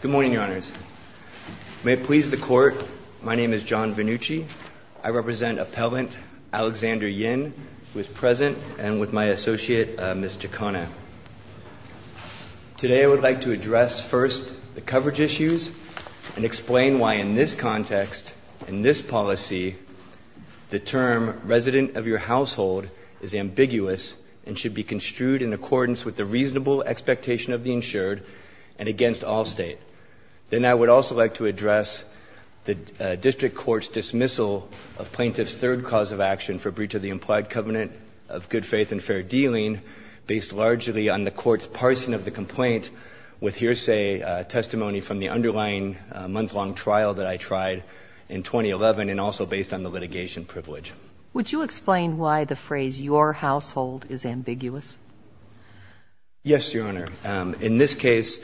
Good morning, Your Honors. May it please the Court, my name is John Vannucci. I represent Appellant Alexander Yin, who is present, and with my associate, Ms. Giacona. Today I would like to address first the coverage issues and explain why in this context, in this policy, the term resident of your household is ambiguous and should be construed in accordance with the reasonable expectation of the insured and against Allstate. Then I would also like to address the district court's dismissal of plaintiff's third cause of action for breach of the implied covenant of good faith and fair dealing, based largely on the court's parsing of the complaint with hearsay testimony from the underlying month-long trial that I tried in 2011 and also based on the litigation privilege. Would you explain why the phrase your household is ambiguous? Yes, Your Honor. In this case,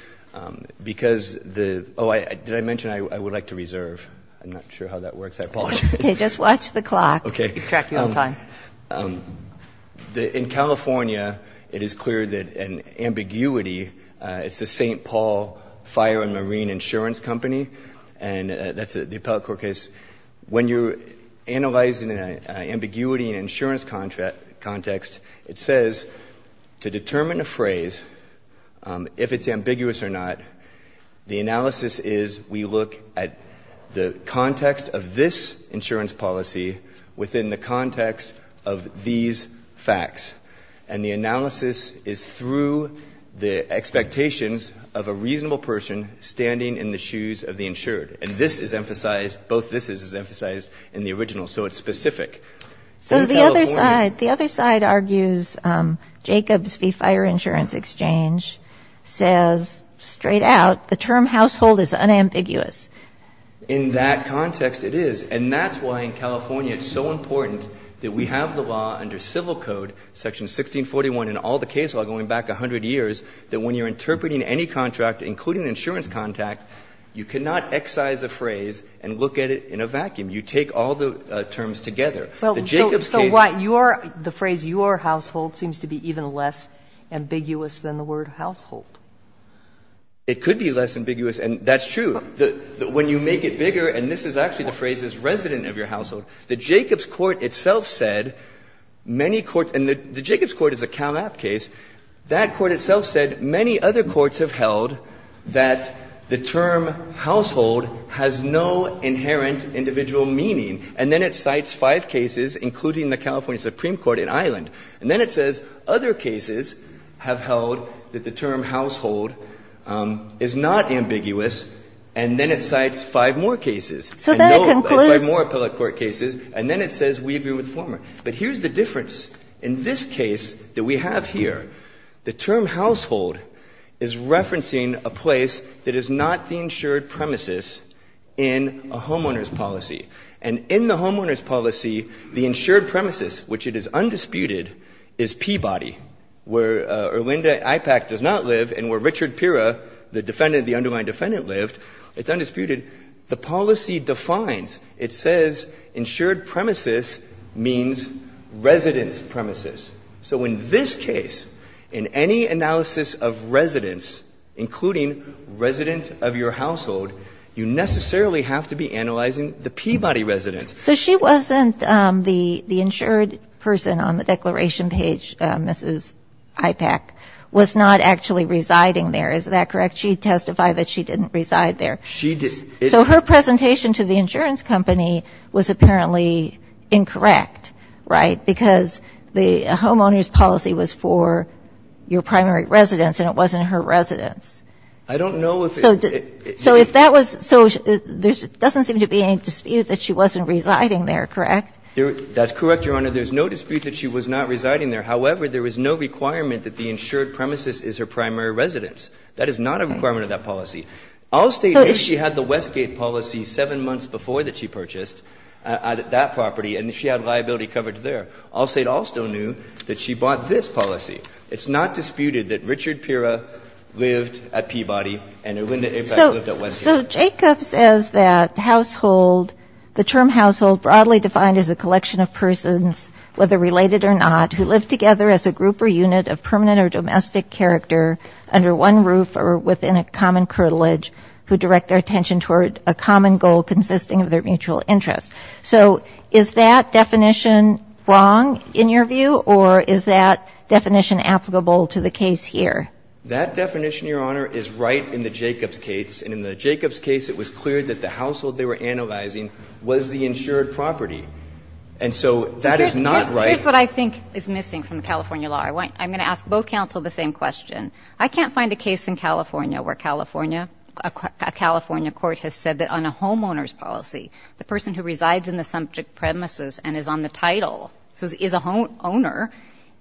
because the oh, did I mention I would like to reserve? I'm not sure how that works. I apologize. Okay. Just watch the clock. Okay. We'll track you in time. In California, it is clear that an ambiguity, it's the St. Paul Fire and Marine Insurance Company, and that's the appellate court case. When you're analyzing an ambiguity in an insurance context, it says to determine a phrase, if it's ambiguous or not, the analysis is we look at the context of this insurance policy within the context of these facts. And the analysis is through the expectations of a reasonable person standing in the shoes of the insured. And this is emphasized, both thises is emphasized in the original, so it's specific. In California So the other side, the other side argues Jacobs v. Fire Insurance Exchange says straight out, the term household is unambiguous. In that context, it is. And that's why in California it's so important that we have the law under civil code, section 1641 in all the case law going back 100 years, that when you're interpreting any contract, including insurance contact, you cannot excise a phrase and look at it in a vacuum. You take all the terms together. The Jacobs case So what, your, the phrase your household seems to be even less ambiguous than the word household. It could be less ambiguous, and that's true. When you make it bigger, and this is actually the phrase is resident of your household. The Jacobs court itself said many courts, and the Jacobs court is a Cal App case. That court itself said many other courts have held that the term household has no inherent individual meaning, and then it cites five cases, including the California Supreme Court in Ireland. And then it says other cases have held that the term household is not ambiguous, and then it cites five more cases. And no, it's five more appellate court cases, and then it says we agree with the former. But here's the difference. In this case that we have here, the term household is referencing a place that is not the insured premises in a homeowner's policy. And in the homeowner's policy, the insured premises, which it is undisputed, is Peabody, where Erlinda Ipac does not live, and where Richard Pira, the defendant, the underlying defendant, lived, it's undisputed. The policy defines. It says insured premises means residence premises. So in this case, in any analysis of residence, including resident of your household, you necessarily have to be analyzing the Peabody residence. So she wasn't the insured person on the declaration page, Mrs. Ipac, was not actually residing there, is that correct? She testified that she didn't reside there. She didn't. So her presentation to the insurance company was apparently incorrect, right, because the homeowner's policy was for your primary residence and it wasn't her residence. I don't know if it's the case. So if that was so, there doesn't seem to be any dispute that she wasn't residing there, correct? That's correct, Your Honor. There's no dispute that she was not residing there. However, there was no requirement that the insured premises is her primary residence. That is not a requirement of that policy. Allstate knew she had the Westgate policy seven months before that she purchased that property and she had liability coverage there. Allstate also knew that she bought this policy. It's not disputed that Richard Pera lived at Peabody and that Linda Ipac lived at Westgate. So Jacob says that household, the term household broadly defined as a collection of persons, whether related or not, who live together as a group or unit of permanent or domestic character under one roof or within a common curtilage who direct their attention toward a common goal consisting of their mutual interest. So is that definition wrong in your view or is that definition applicable to the case here? That definition, Your Honor, is right in the Jacobs case. And in the Jacobs case, it was clear that the household they were analyzing was the insured property. And so that is not right. Here's what I think is missing from the California law. I'm going to ask both counsel the same question. I can't find a case in California where California, a California court has said that on a homeowner's policy, the person who resides in the subject premises and is on the title, so is a homeowner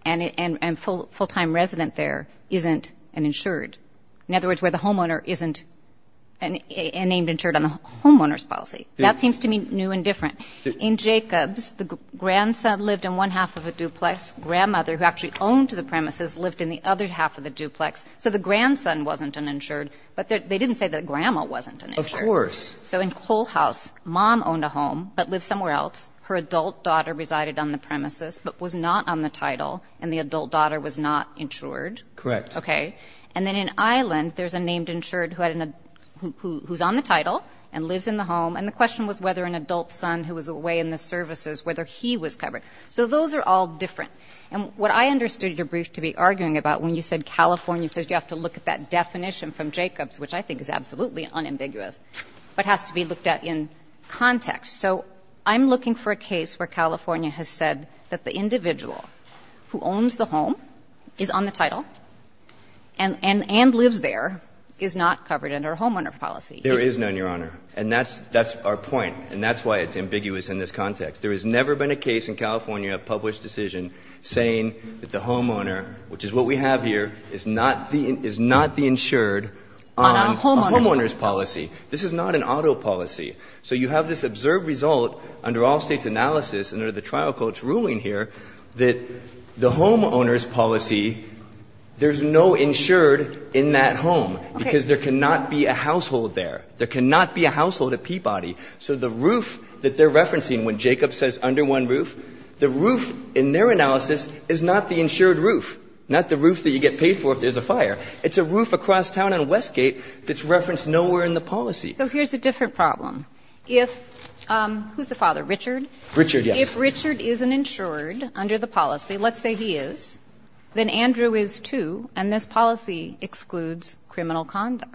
and full-time resident there, isn't an insured. In other words, where the homeowner isn't named insured on the homeowner's policy. That seems to me new and different. In Jacobs, the grandson lived in one half of a duplex. Grandmother, who actually owned the premises, lived in the other half of the duplex. So the grandson wasn't an insured. But they didn't say that grandma wasn't an insured. Of course. So in Cole House, mom owned a home but lived somewhere else. Her adult daughter resided on the premises but was not on the title. And the adult daughter was not insured. Correct. Okay. And then in Island, there's a named insured who's on the title and lives in the home. And the question was whether an adult son who was away in the services, whether he was covered. So those are all different. And what I understood your brief to be arguing about when you said California says you have to look at that definition from Jacobs, which I think is absolutely unambiguous, but has to be looked at in context. So I'm looking for a case where California has said that the individual who owns the home is on the title and lives there, is not covered under a homeowner policy. There is none, Your Honor. And that's our point. And that's why it's ambiguous in this context. There has never been a case in California of published decision saying that the homeowner, which is what we have here, is not the insured on a homeowner's policy. This is not an auto policy. So you have this observed result under all States' analysis and under the trial court's ruling here that the homeowner's policy, there's no insured in that home. Okay. Because there cannot be a household there. There cannot be a household at Peabody. So the roof that they're referencing when Jacobs says under one roof, the roof in their analysis is not the insured roof, not the roof that you get paid for if there's a fire. It's a roof across town on Westgate that's referenced nowhere in the policy. So here's a different problem. If the father, Richard. Richard, yes. If Richard is an insured under the policy, let's say he is, then Andrew is, too, and this policy excludes criminal conduct.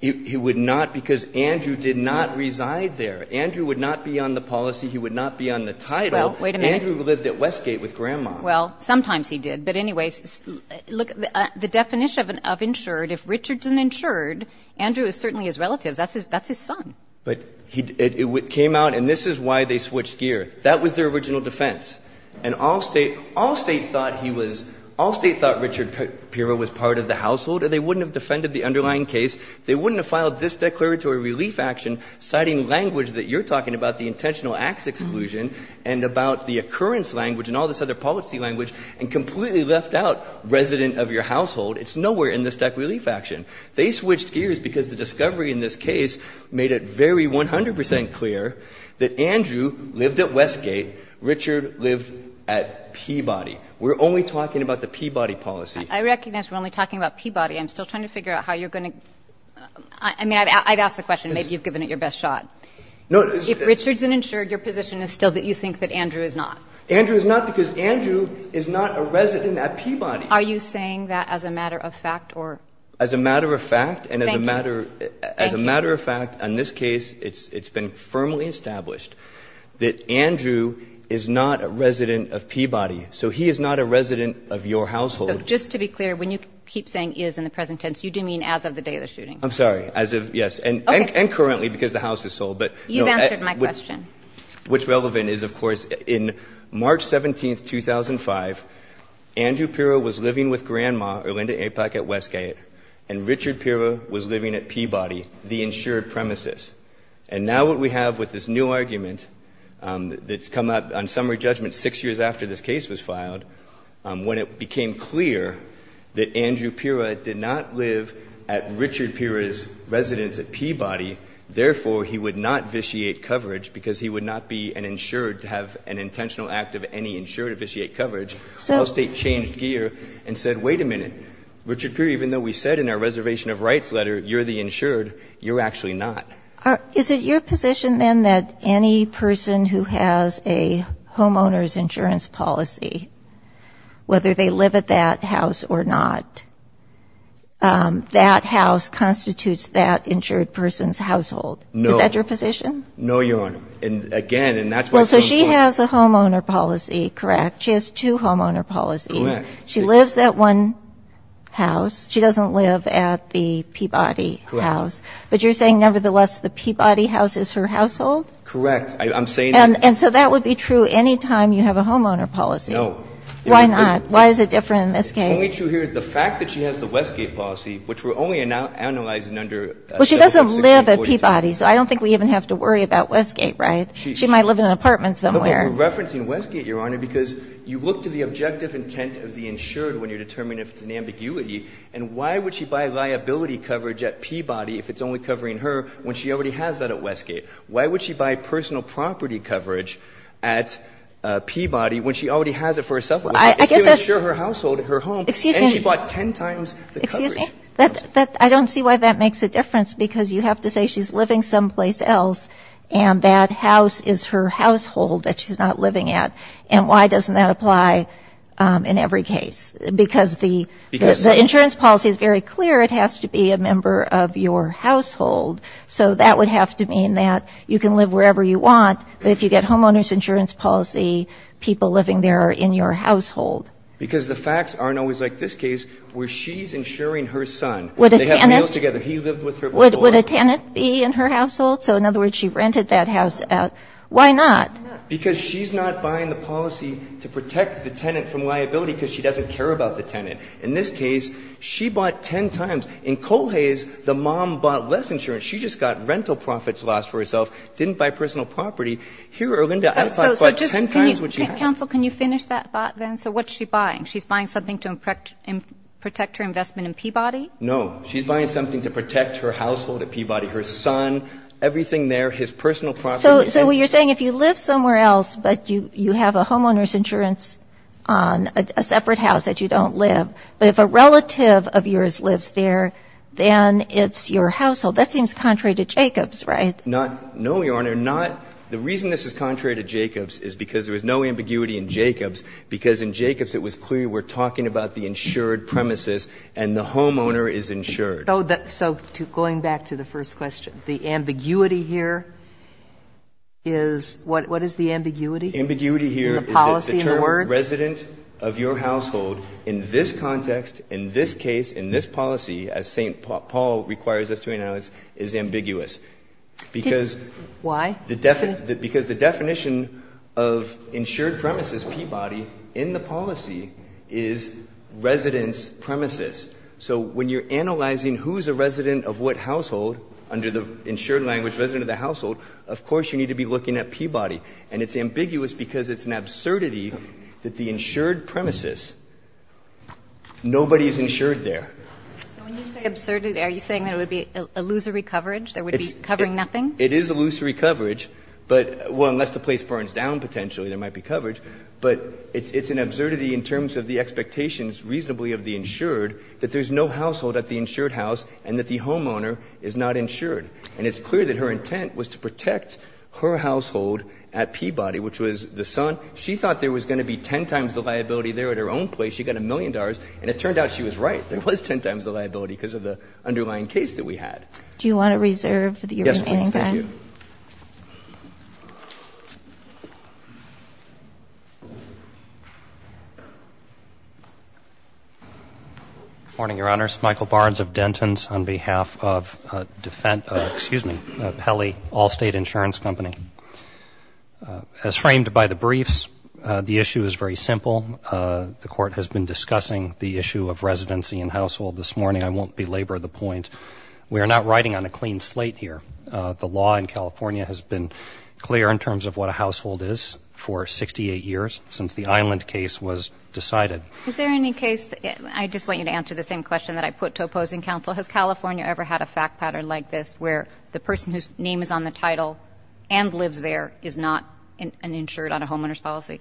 He would not, because Andrew did not reside there. Andrew would not be on the policy. He would not be on the title. Well, wait a minute. Andrew lived at Westgate with Grandma. Well, sometimes he did. But anyways, look, the definition of insured, if Richard's an insured, Andrew is certainly his relative. That's his son. But it came out, and this is why they switched gear. That was their original defense. And all State thought he was all State thought Richard Pirro was part of the household, and they wouldn't have defended the underlying case. They wouldn't have filed this declaratory relief action, citing language that you're talking about, the intentional acts exclusion, and about the occurrence language and all this other policy language, and completely left out resident of your household. It's nowhere in this declaratory relief action. They switched gears because the discovery in this case made it very 100 percent clear that Andrew lived at Westgate, Richard lived at Peabody. We're only talking about the Peabody policy. I recognize we're only talking about Peabody. I'm still trying to figure out how you're going to – I mean, I've asked the question. Maybe you've given it your best shot. No. If Richard's an insured, your position is still that you think that Andrew is not. Andrew is not because Andrew is not a resident at Peabody. Are you saying that as a matter of fact or? As a matter of fact and as a matter of fact, in this case, it's been firmly established that Andrew is not a resident of Peabody, so he is not a resident of your household. So just to be clear, when you keep saying is in the present tense, you do mean as of the day of the shooting. I'm sorry. As of – yes. And currently, because the house is sold. But no. You've answered my question. What's relevant is, of course, in March 17, 2005, Andrew Pirro was living with grandma, Orlinda Apac, at Westgate, and Richard Pirro was living at Peabody, the insured premises. And now what we have with this new argument that's come up on summary judgment six years after this case was filed, when it became clear that Andrew Pirro did not live at Richard Pirro's residence at Peabody, therefore, he would not vitiate coverage because he would not be an insured to have an intentional act of any insured to vitiate coverage, the state changed gear and said, wait a minute, Richard Pirro, even though we said in our reservation of rights letter, you're the insured, you're actually not. Is it your position, then, that any person who has a homeowner's insurance policy, whether they live at that house or not, that house constitutes that insured person's household? No. Is that your position? No, Your Honor. And again, and that's what's going on. Well, so she has a homeowner policy, correct? She has two homeowner policies. Correct. She lives at one house. She doesn't live at the Peabody house. Correct. But you're saying, nevertheless, the Peabody house is her household? Correct. I'm saying that. And so that would be true any time you have a homeowner policy. No. Why not? Why is it different in this case? The fact that she has the Westgate policy, which we're only analyzing under a shelf of 1640. Well, she doesn't live at Peabody, so I don't think we even have to worry about Westgate, right? She might live in an apartment somewhere. We're referencing Westgate, Your Honor, because you look to the objective intent of the insured when you're determining if it's an ambiguity. And why would she buy liability coverage at Peabody if it's only covering her when she already has that at Westgate? Why would she buy personal property coverage at Peabody when she already has it for herself? I guess that's Excuse me. It's to insure her household, her home, and she bought ten times the coverage. Excuse me? I don't see why that makes a difference, because you have to say she's living someplace else and that house is her household that she's not living at, and why doesn't that apply in every case? Because the Because it's not her house. Insurance policy is very clear. It has to be a member of your household. So that would have to mean that you can live wherever you want, but if you get homeowner's insurance policy, people living there are in your household. Because the facts aren't always like this case, where she's insuring her son. Would a tenant Would they have meals together. He lived with her before. Would a tenant be in her household? So in other words, she rented that house out. Why not? In this case, she bought ten times. In Colhais, the mom bought less insurance. She just got rental profits lost for herself, didn't buy personal property. Here, Erlinda, I thought she bought ten times what she had. Counsel, can you finish that thought then? So what's she buying? She's buying something to protect her investment in Peabody? No. She's buying something to protect her household at Peabody, her son, everything there, his personal property. So you're saying if you live somewhere else, but you have a homeowner's insurance on a separate house that you don't live, but if a relative of yours lives there, then it's your household. That seems contrary to Jacobs, right? Not, no, Your Honor, not. The reason this is contrary to Jacobs is because there was no ambiguity in Jacobs, because in Jacobs it was clear we're talking about the insured premises and the homeowner is insured. So going back to the first question, the ambiguity here is, what is the ambiguity? Ambiguity here is the term. Resident of your household in this context, in this case, in this policy, as St. Paul requires us to analyze, is ambiguous. Why? Because the definition of insured premises, Peabody, in the policy is residence premises. So when you're analyzing who's a resident of what household under the insured language, resident of the household, of course you need to be looking at Peabody. And it's ambiguous because it's an absurdity that the insured premises, nobody is insured there. So when you say absurdity, are you saying that it would be illusory coverage? There would be covering nothing? It is illusory coverage, but, well, unless the place burns down potentially there might be coverage, but it's an absurdity in terms of the expectations reasonably of the insured that there's no household at the insured house and that the homeowner is not insured. And it's clear that her intent was to protect her household at Peabody, which was the son. She thought there was going to be 10 times the liability there at her own place. She got a million dollars, and it turned out she was right. There was 10 times the liability because of the underlying case that we had. Do you want to reserve your remaining time? Yes, please. Thank you. Good morning, Your Honors. Michael Barnes of Denton's on behalf of Pelley Allstate Insurance Company. As framed by the briefs, the issue is very simple. The court has been discussing the issue of residency and household this morning. I won't belabor the point. We are not riding on a clean slate here. The law in California has been clear in terms of what a household is for 68 years since the Island case was decided. Is there any case, I just want you to answer the same question that I put to opposing counsel, has California ever had a fact pattern like this where the person whose name is on the title and lives there is not insured on a homeowner's policy?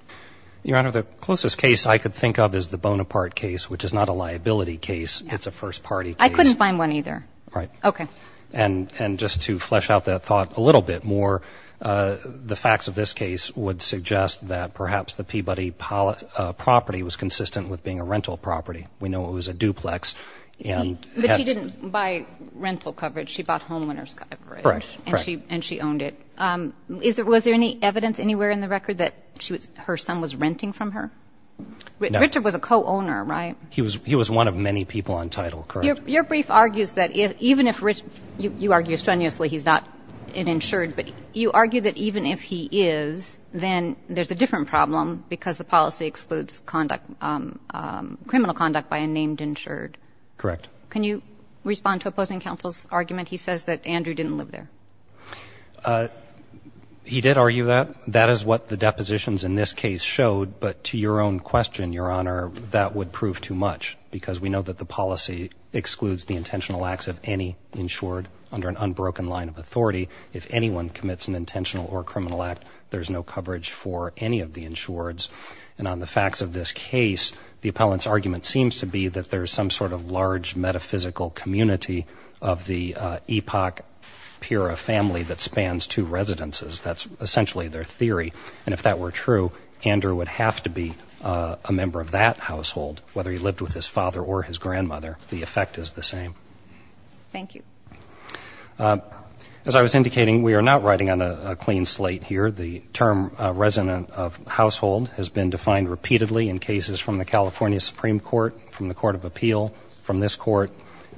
Your Honor, the closest case I could think of is the Bonaparte case, which is not a liability case, it's a first party case. I couldn't find one either. Right. Okay. And just to flesh out that thought a little bit more, the facts of this case would suggest that perhaps the Peabody property was consistent with being a rental property. We know it was a duplex and- But she didn't buy rental coverage, she bought homeowner's coverage. Correct, correct. And she owned it. Was there any evidence anywhere in the record that her son was renting from her? No. Richard was a co-owner, right? He was one of many people on title, correct. Your brief argues that even if, you argue strenuously he's not insured, but you argue that even if he is, then there's a different problem because the policy excludes criminal conduct by a named insured. Correct. Can you respond to opposing counsel's argument? He says that Andrew didn't live there. He did argue that. That is what the depositions in this case showed, but to your own question, Your Honor, that would prove too much because we know that the policy excludes the intentional acts of any insured under an unbroken line of authority. If anyone commits an intentional or And on the facts of this case, the appellant's argument seems to be that there's some sort of large metaphysical community of the Epoch Pira family that spans two residences, that's essentially their theory. And if that were true, Andrew would have to be a member of that household, whether he lived with his father or his grandmother, the effect is the same. Thank you. As I was indicating, we are not writing on a clean slate here. The term resident of household has been defined repeatedly in cases from the California Supreme Court, from the Court of Appeal, from this court,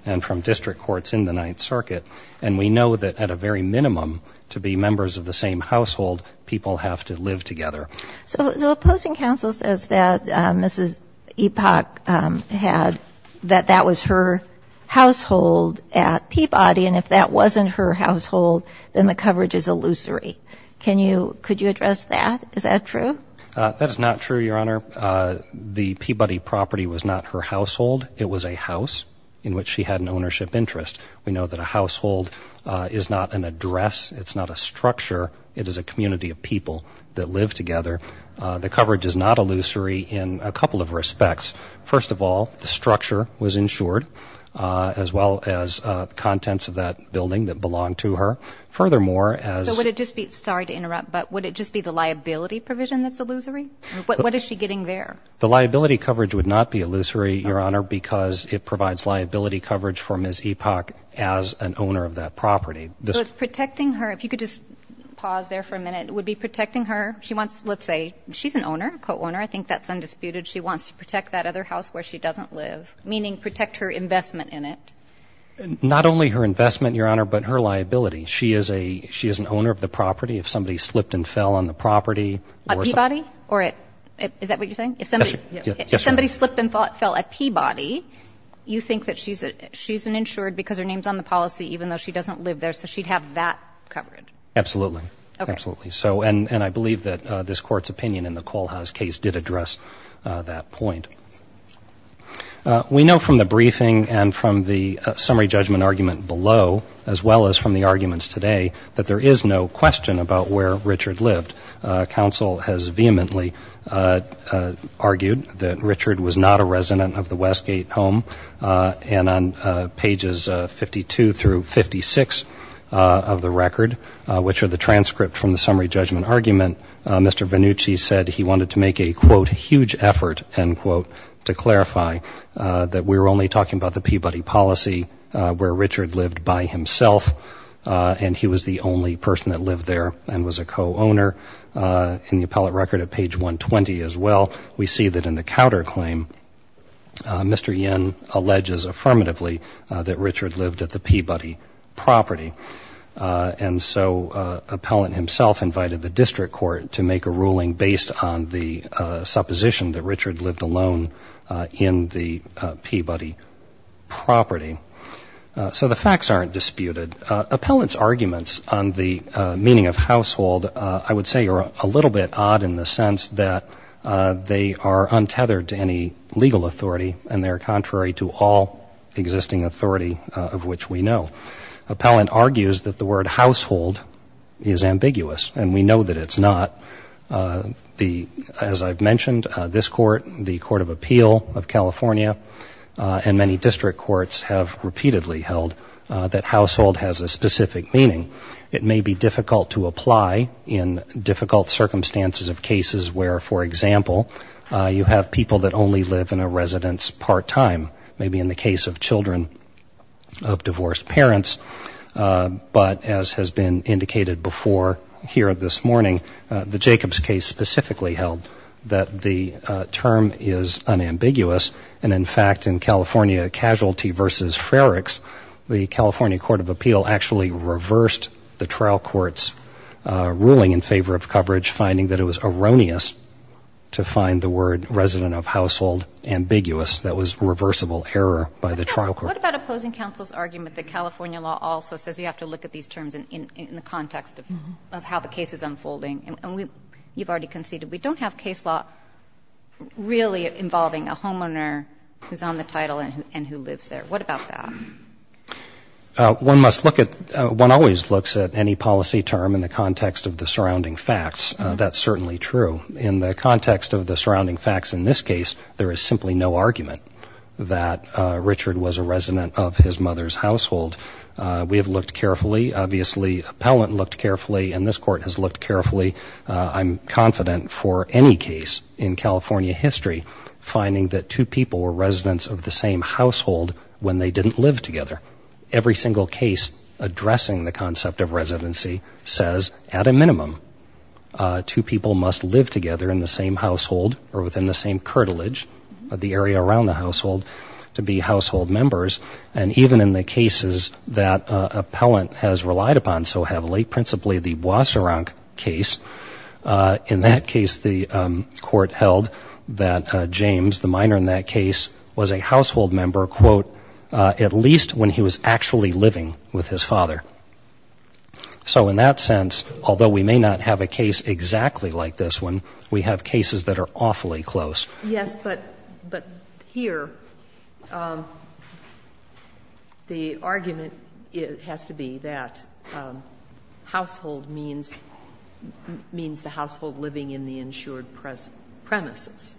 and from district courts in the Ninth Circuit. And we know that at a very minimum, to be members of the same household, people have to live together. So opposing counsel says that Mrs. Epoch had, that that was her household at Peabody. And if that wasn't her household, then the coverage is illusory. Can you, could you address that? Is that true? That is not true, Your Honor. The Peabody property was not her household, it was a house in which she had an ownership interest. We know that a household is not an address, it's not a structure, it is a community of people that live together. The coverage is not illusory in a couple of respects. First of all, the structure was insured, as well as contents of that building that belonged to her. Furthermore, as- So would it just be, sorry to interrupt, but would it just be the liability provision that's illusory? What is she getting there? The liability coverage would not be illusory, Your Honor, because it provides liability coverage for Ms. Epoch as an owner of that property. So it's protecting her, if you could just pause there for a minute, it would be protecting her. She wants, let's say, she's an owner, co-owner, I think that's undisputed. She wants to protect that other house where she doesn't live, meaning protect her investment in it. Not only her investment, Your Honor, but her liability. She is an owner of the property. If somebody slipped and fell on the property- A Peabody? Or is that what you're saying? If somebody slipped and fell at Peabody, you think that she's an insured because her name's on the policy, even though she doesn't live there, so she'd have that covered? Absolutely, absolutely. And I believe that this court's opinion in the Kohlhaus case did address that point. We know from the briefing and from the summary judgment argument below, as well as from the arguments today, that there is no question about where Richard lived. Counsel has vehemently argued that Richard was not a resident of the Westgate home. And on pages 52 through 56 of the record, which are the transcript from the summary judgment argument, Mr. Vannucci said he wanted to make a, quote, huge effort, end quote, to clarify that we're only talking about the Peabody policy where Richard lived by himself. And he was the only person that lived there and was a co-owner. In the appellate record at page 120 as well, we see that in the counterclaim, Mr. Yen alleges affirmatively that Richard lived at the Peabody property. And so, appellant himself invited the district court to make a ruling based on the supposition that Richard lived alone in the Peabody property. So the facts aren't disputed. Appellant's arguments on the meaning of household, I would say, are a little bit odd in the sense that they are untethered to any legal authority. And they're contrary to all existing authority of which we know. Appellant argues that the word household is ambiguous. And we know that it's not. As I've mentioned, this court, the Court of Appeal of California, and many district courts have repeatedly held that household has a specific meaning. It may be difficult to apply in difficult circumstances of cases where, for example, you have people that only live in a residence part-time, maybe in the case of children of divorced parents. But as has been indicated before here this morning, the Jacobs case specifically held that the term is unambiguous. And in fact, in California Casualty versus Frerichs, the California Court of Appeal actually reversed the trial court's ruling in favor of coverage, finding that it was erroneous to find the word resident of household ambiguous that was reversible error by the trial court. What about opposing counsel's argument that California law also says you have to look at these terms in the context of how the case is unfolding? And you've already conceded, we don't have case law really involving a homeowner who's on the title and who lives there. What about that? One must look at, one always looks at any policy term in the context of the surrounding facts, that's certainly true. In the context of the surrounding facts in this case, there is simply no argument that Richard was a resident of his mother's household. We have looked carefully, obviously appellant looked carefully, and this court has looked carefully. I'm confident for any case in California history, finding that two people were residents of the same household when they didn't live together, every single case addressing the concept of residency says at a minimum, two people must live together in the same household or within the same curtilage, the area around the household, to be household members. And even in the cases that appellant has relied upon so heavily, principally the Boisaran case, in that case, the court held that James, the minor in that case, was a household member, quote, at least when he was actually living with his father. So in that sense, although we may not have a case exactly like this one, we have cases that are awfully close. Yes, but here, the argument has to be that household means the household living in the insured premises.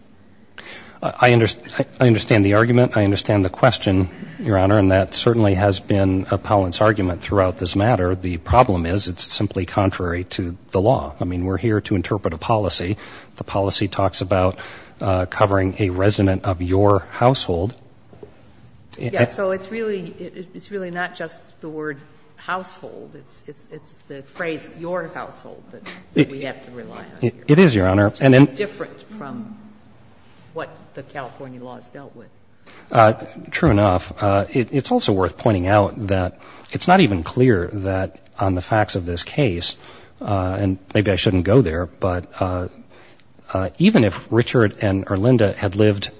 I understand the argument, I understand the question, Your Honor, and that certainly has been appellant's argument throughout this matter. The problem is, it's simply contrary to the law. I mean, we're here to interpret a policy. The policy talks about covering a resident of your household. Yeah, so it's really not just the word household, it's the phrase your household that we have to rely on here. It is, Your Honor. It's different from what the California laws dealt with. True enough, it's also worth pointing out that it's not even clear that on the facts of this case, and maybe I shouldn't go there, but even if Richard and Erlinda had lived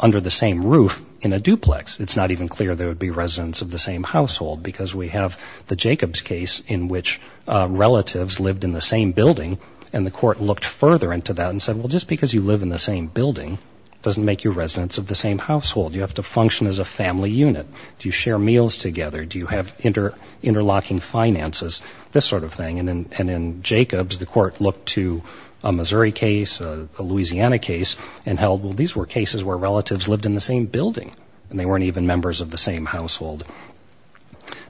under the same roof in a duplex, it's not even clear they would be residents of the same household. Because we have the Jacobs case in which relatives lived in the same building, and the court looked further into that and said, well, just because you live in the same building doesn't make you residents of the same household. You have to function as a family unit. Do you share meals together? Do you have interlocking finances? This sort of thing. And in Jacobs, the court looked to a Missouri case, a Louisiana case, and held, well, these were cases where relatives lived in the same building, and they weren't even members of the same household.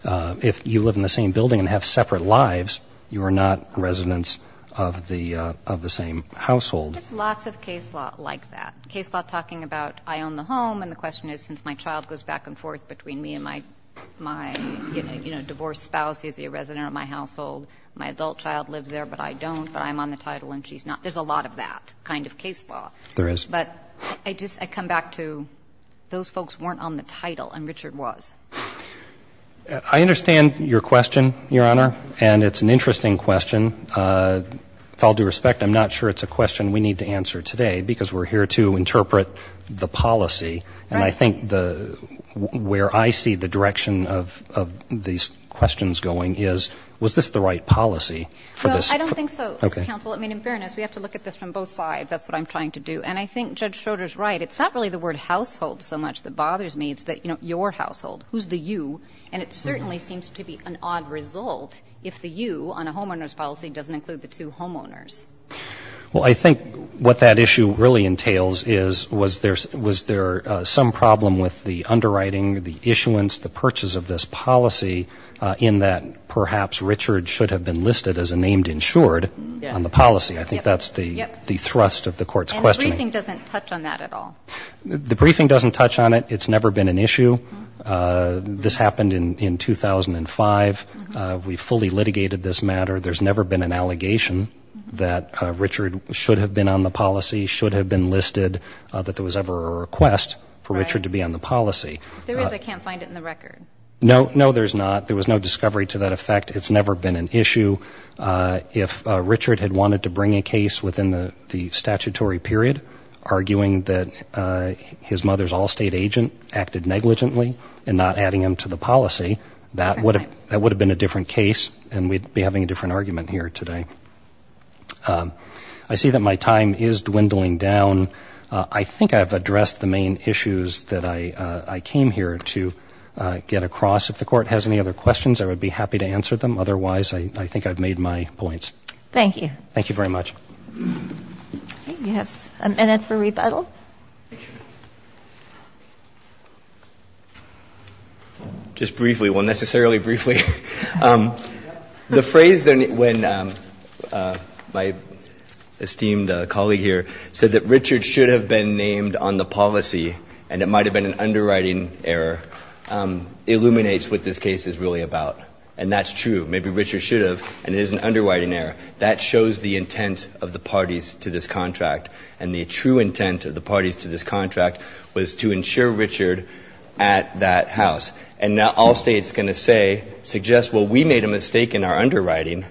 If you live in the same building and have separate lives, you are not residents of the same household. There's lots of case law like that. Case law talking about I own the home, and the question is, since my child goes back and forth between me and my divorced spouse, he's a resident of my household. My adult child lives there, but I don't, but I'm on the title, and she's not. There's a lot of that kind of case law. There is. But I just, I come back to, those folks weren't on the title, and Richard was. I understand your question, Your Honor, and it's an interesting question. With all due respect, I'm not sure it's a question we need to answer today, because we're here to interpret the policy. And I think the, where I see the direction of these questions going is, was this the right policy for this? Well, I don't think so, Mr. Counsel. I mean, in fairness, we have to look at this from both sides. That's what I'm trying to do. And I think Judge Schroeder's right. It's not really the word household so much that bothers me. It's that, you know, your household. Who's the you? And it certainly seems to be an odd result if the you, on a homeowner's policy, doesn't include the two homeowners. Well, I think what that issue really entails is, was there some problem with the underwriting, the issuance, the purchase of this policy, in that perhaps Richard should have been listed as a named insured on the policy? I think that's the thrust of the court's questioning. And the briefing doesn't touch on that at all. The briefing doesn't touch on it. It's never been an issue. This happened in 2005. We fully litigated this matter. There's never been an allegation that Richard should have been on the policy, should have been listed, that there was ever a request for Richard to be on the policy. If there is, I can't find it in the record. No, no, there's not. There was no discovery to that effect. It's never been an issue. If Richard had wanted to bring a case within the statutory period, arguing that his mother's Allstate agent acted negligently and not adding him to the policy, that would have been a different case, and we'd be having a different argument here today. I see that my time is dwindling down. I think I've addressed the main issues that I came here to get across. If the court has any other questions, I would be happy to answer them. Otherwise, I think I've made my points. Thank you. Thank you very much. We have a minute for rebuttal. Thank you. Just briefly, well, necessarily briefly. The phrase when my esteemed colleague here said that Richard should have been named on the policy, and it might have been an underwriting error, illuminates what this case is really about. And that's true. Maybe Richard should have, and it is an underwriting error. That shows the intent of the parties to this contract. And the true intent of the parties to this contract was to insure Richard at that house. And now Allstate's going to say, suggest, well, we made a mistake in our underwriting,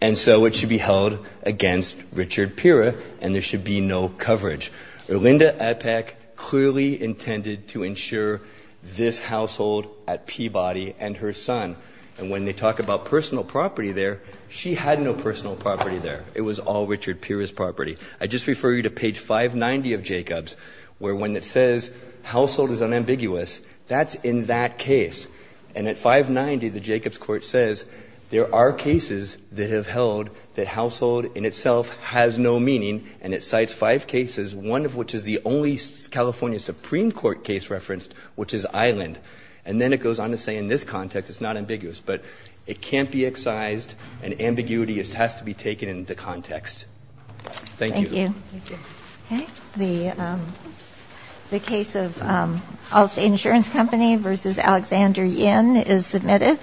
and so it should be held against Richard Pirra, and there should be no coverage. Orlinda Epek clearly intended to insure this household at Peabody and her son. And when they talk about personal property there, she had no personal property there. It was all Richard Pirra's property. I just refer you to page 590 of Jacobs, where when it says household is unambiguous, that's in that case. And at 590, the Jacobs court says, there are cases that have held that household in itself has no meaning. And it cites five cases, one of which is the only California Supreme Court case referenced, which is Island. And then it goes on to say in this context, it's not ambiguous, but it can't be excised, and ambiguity has to be taken into context. Thank you. Thank you. Okay, the case of Allstate Insurance Company versus Alexander Yin is submitted.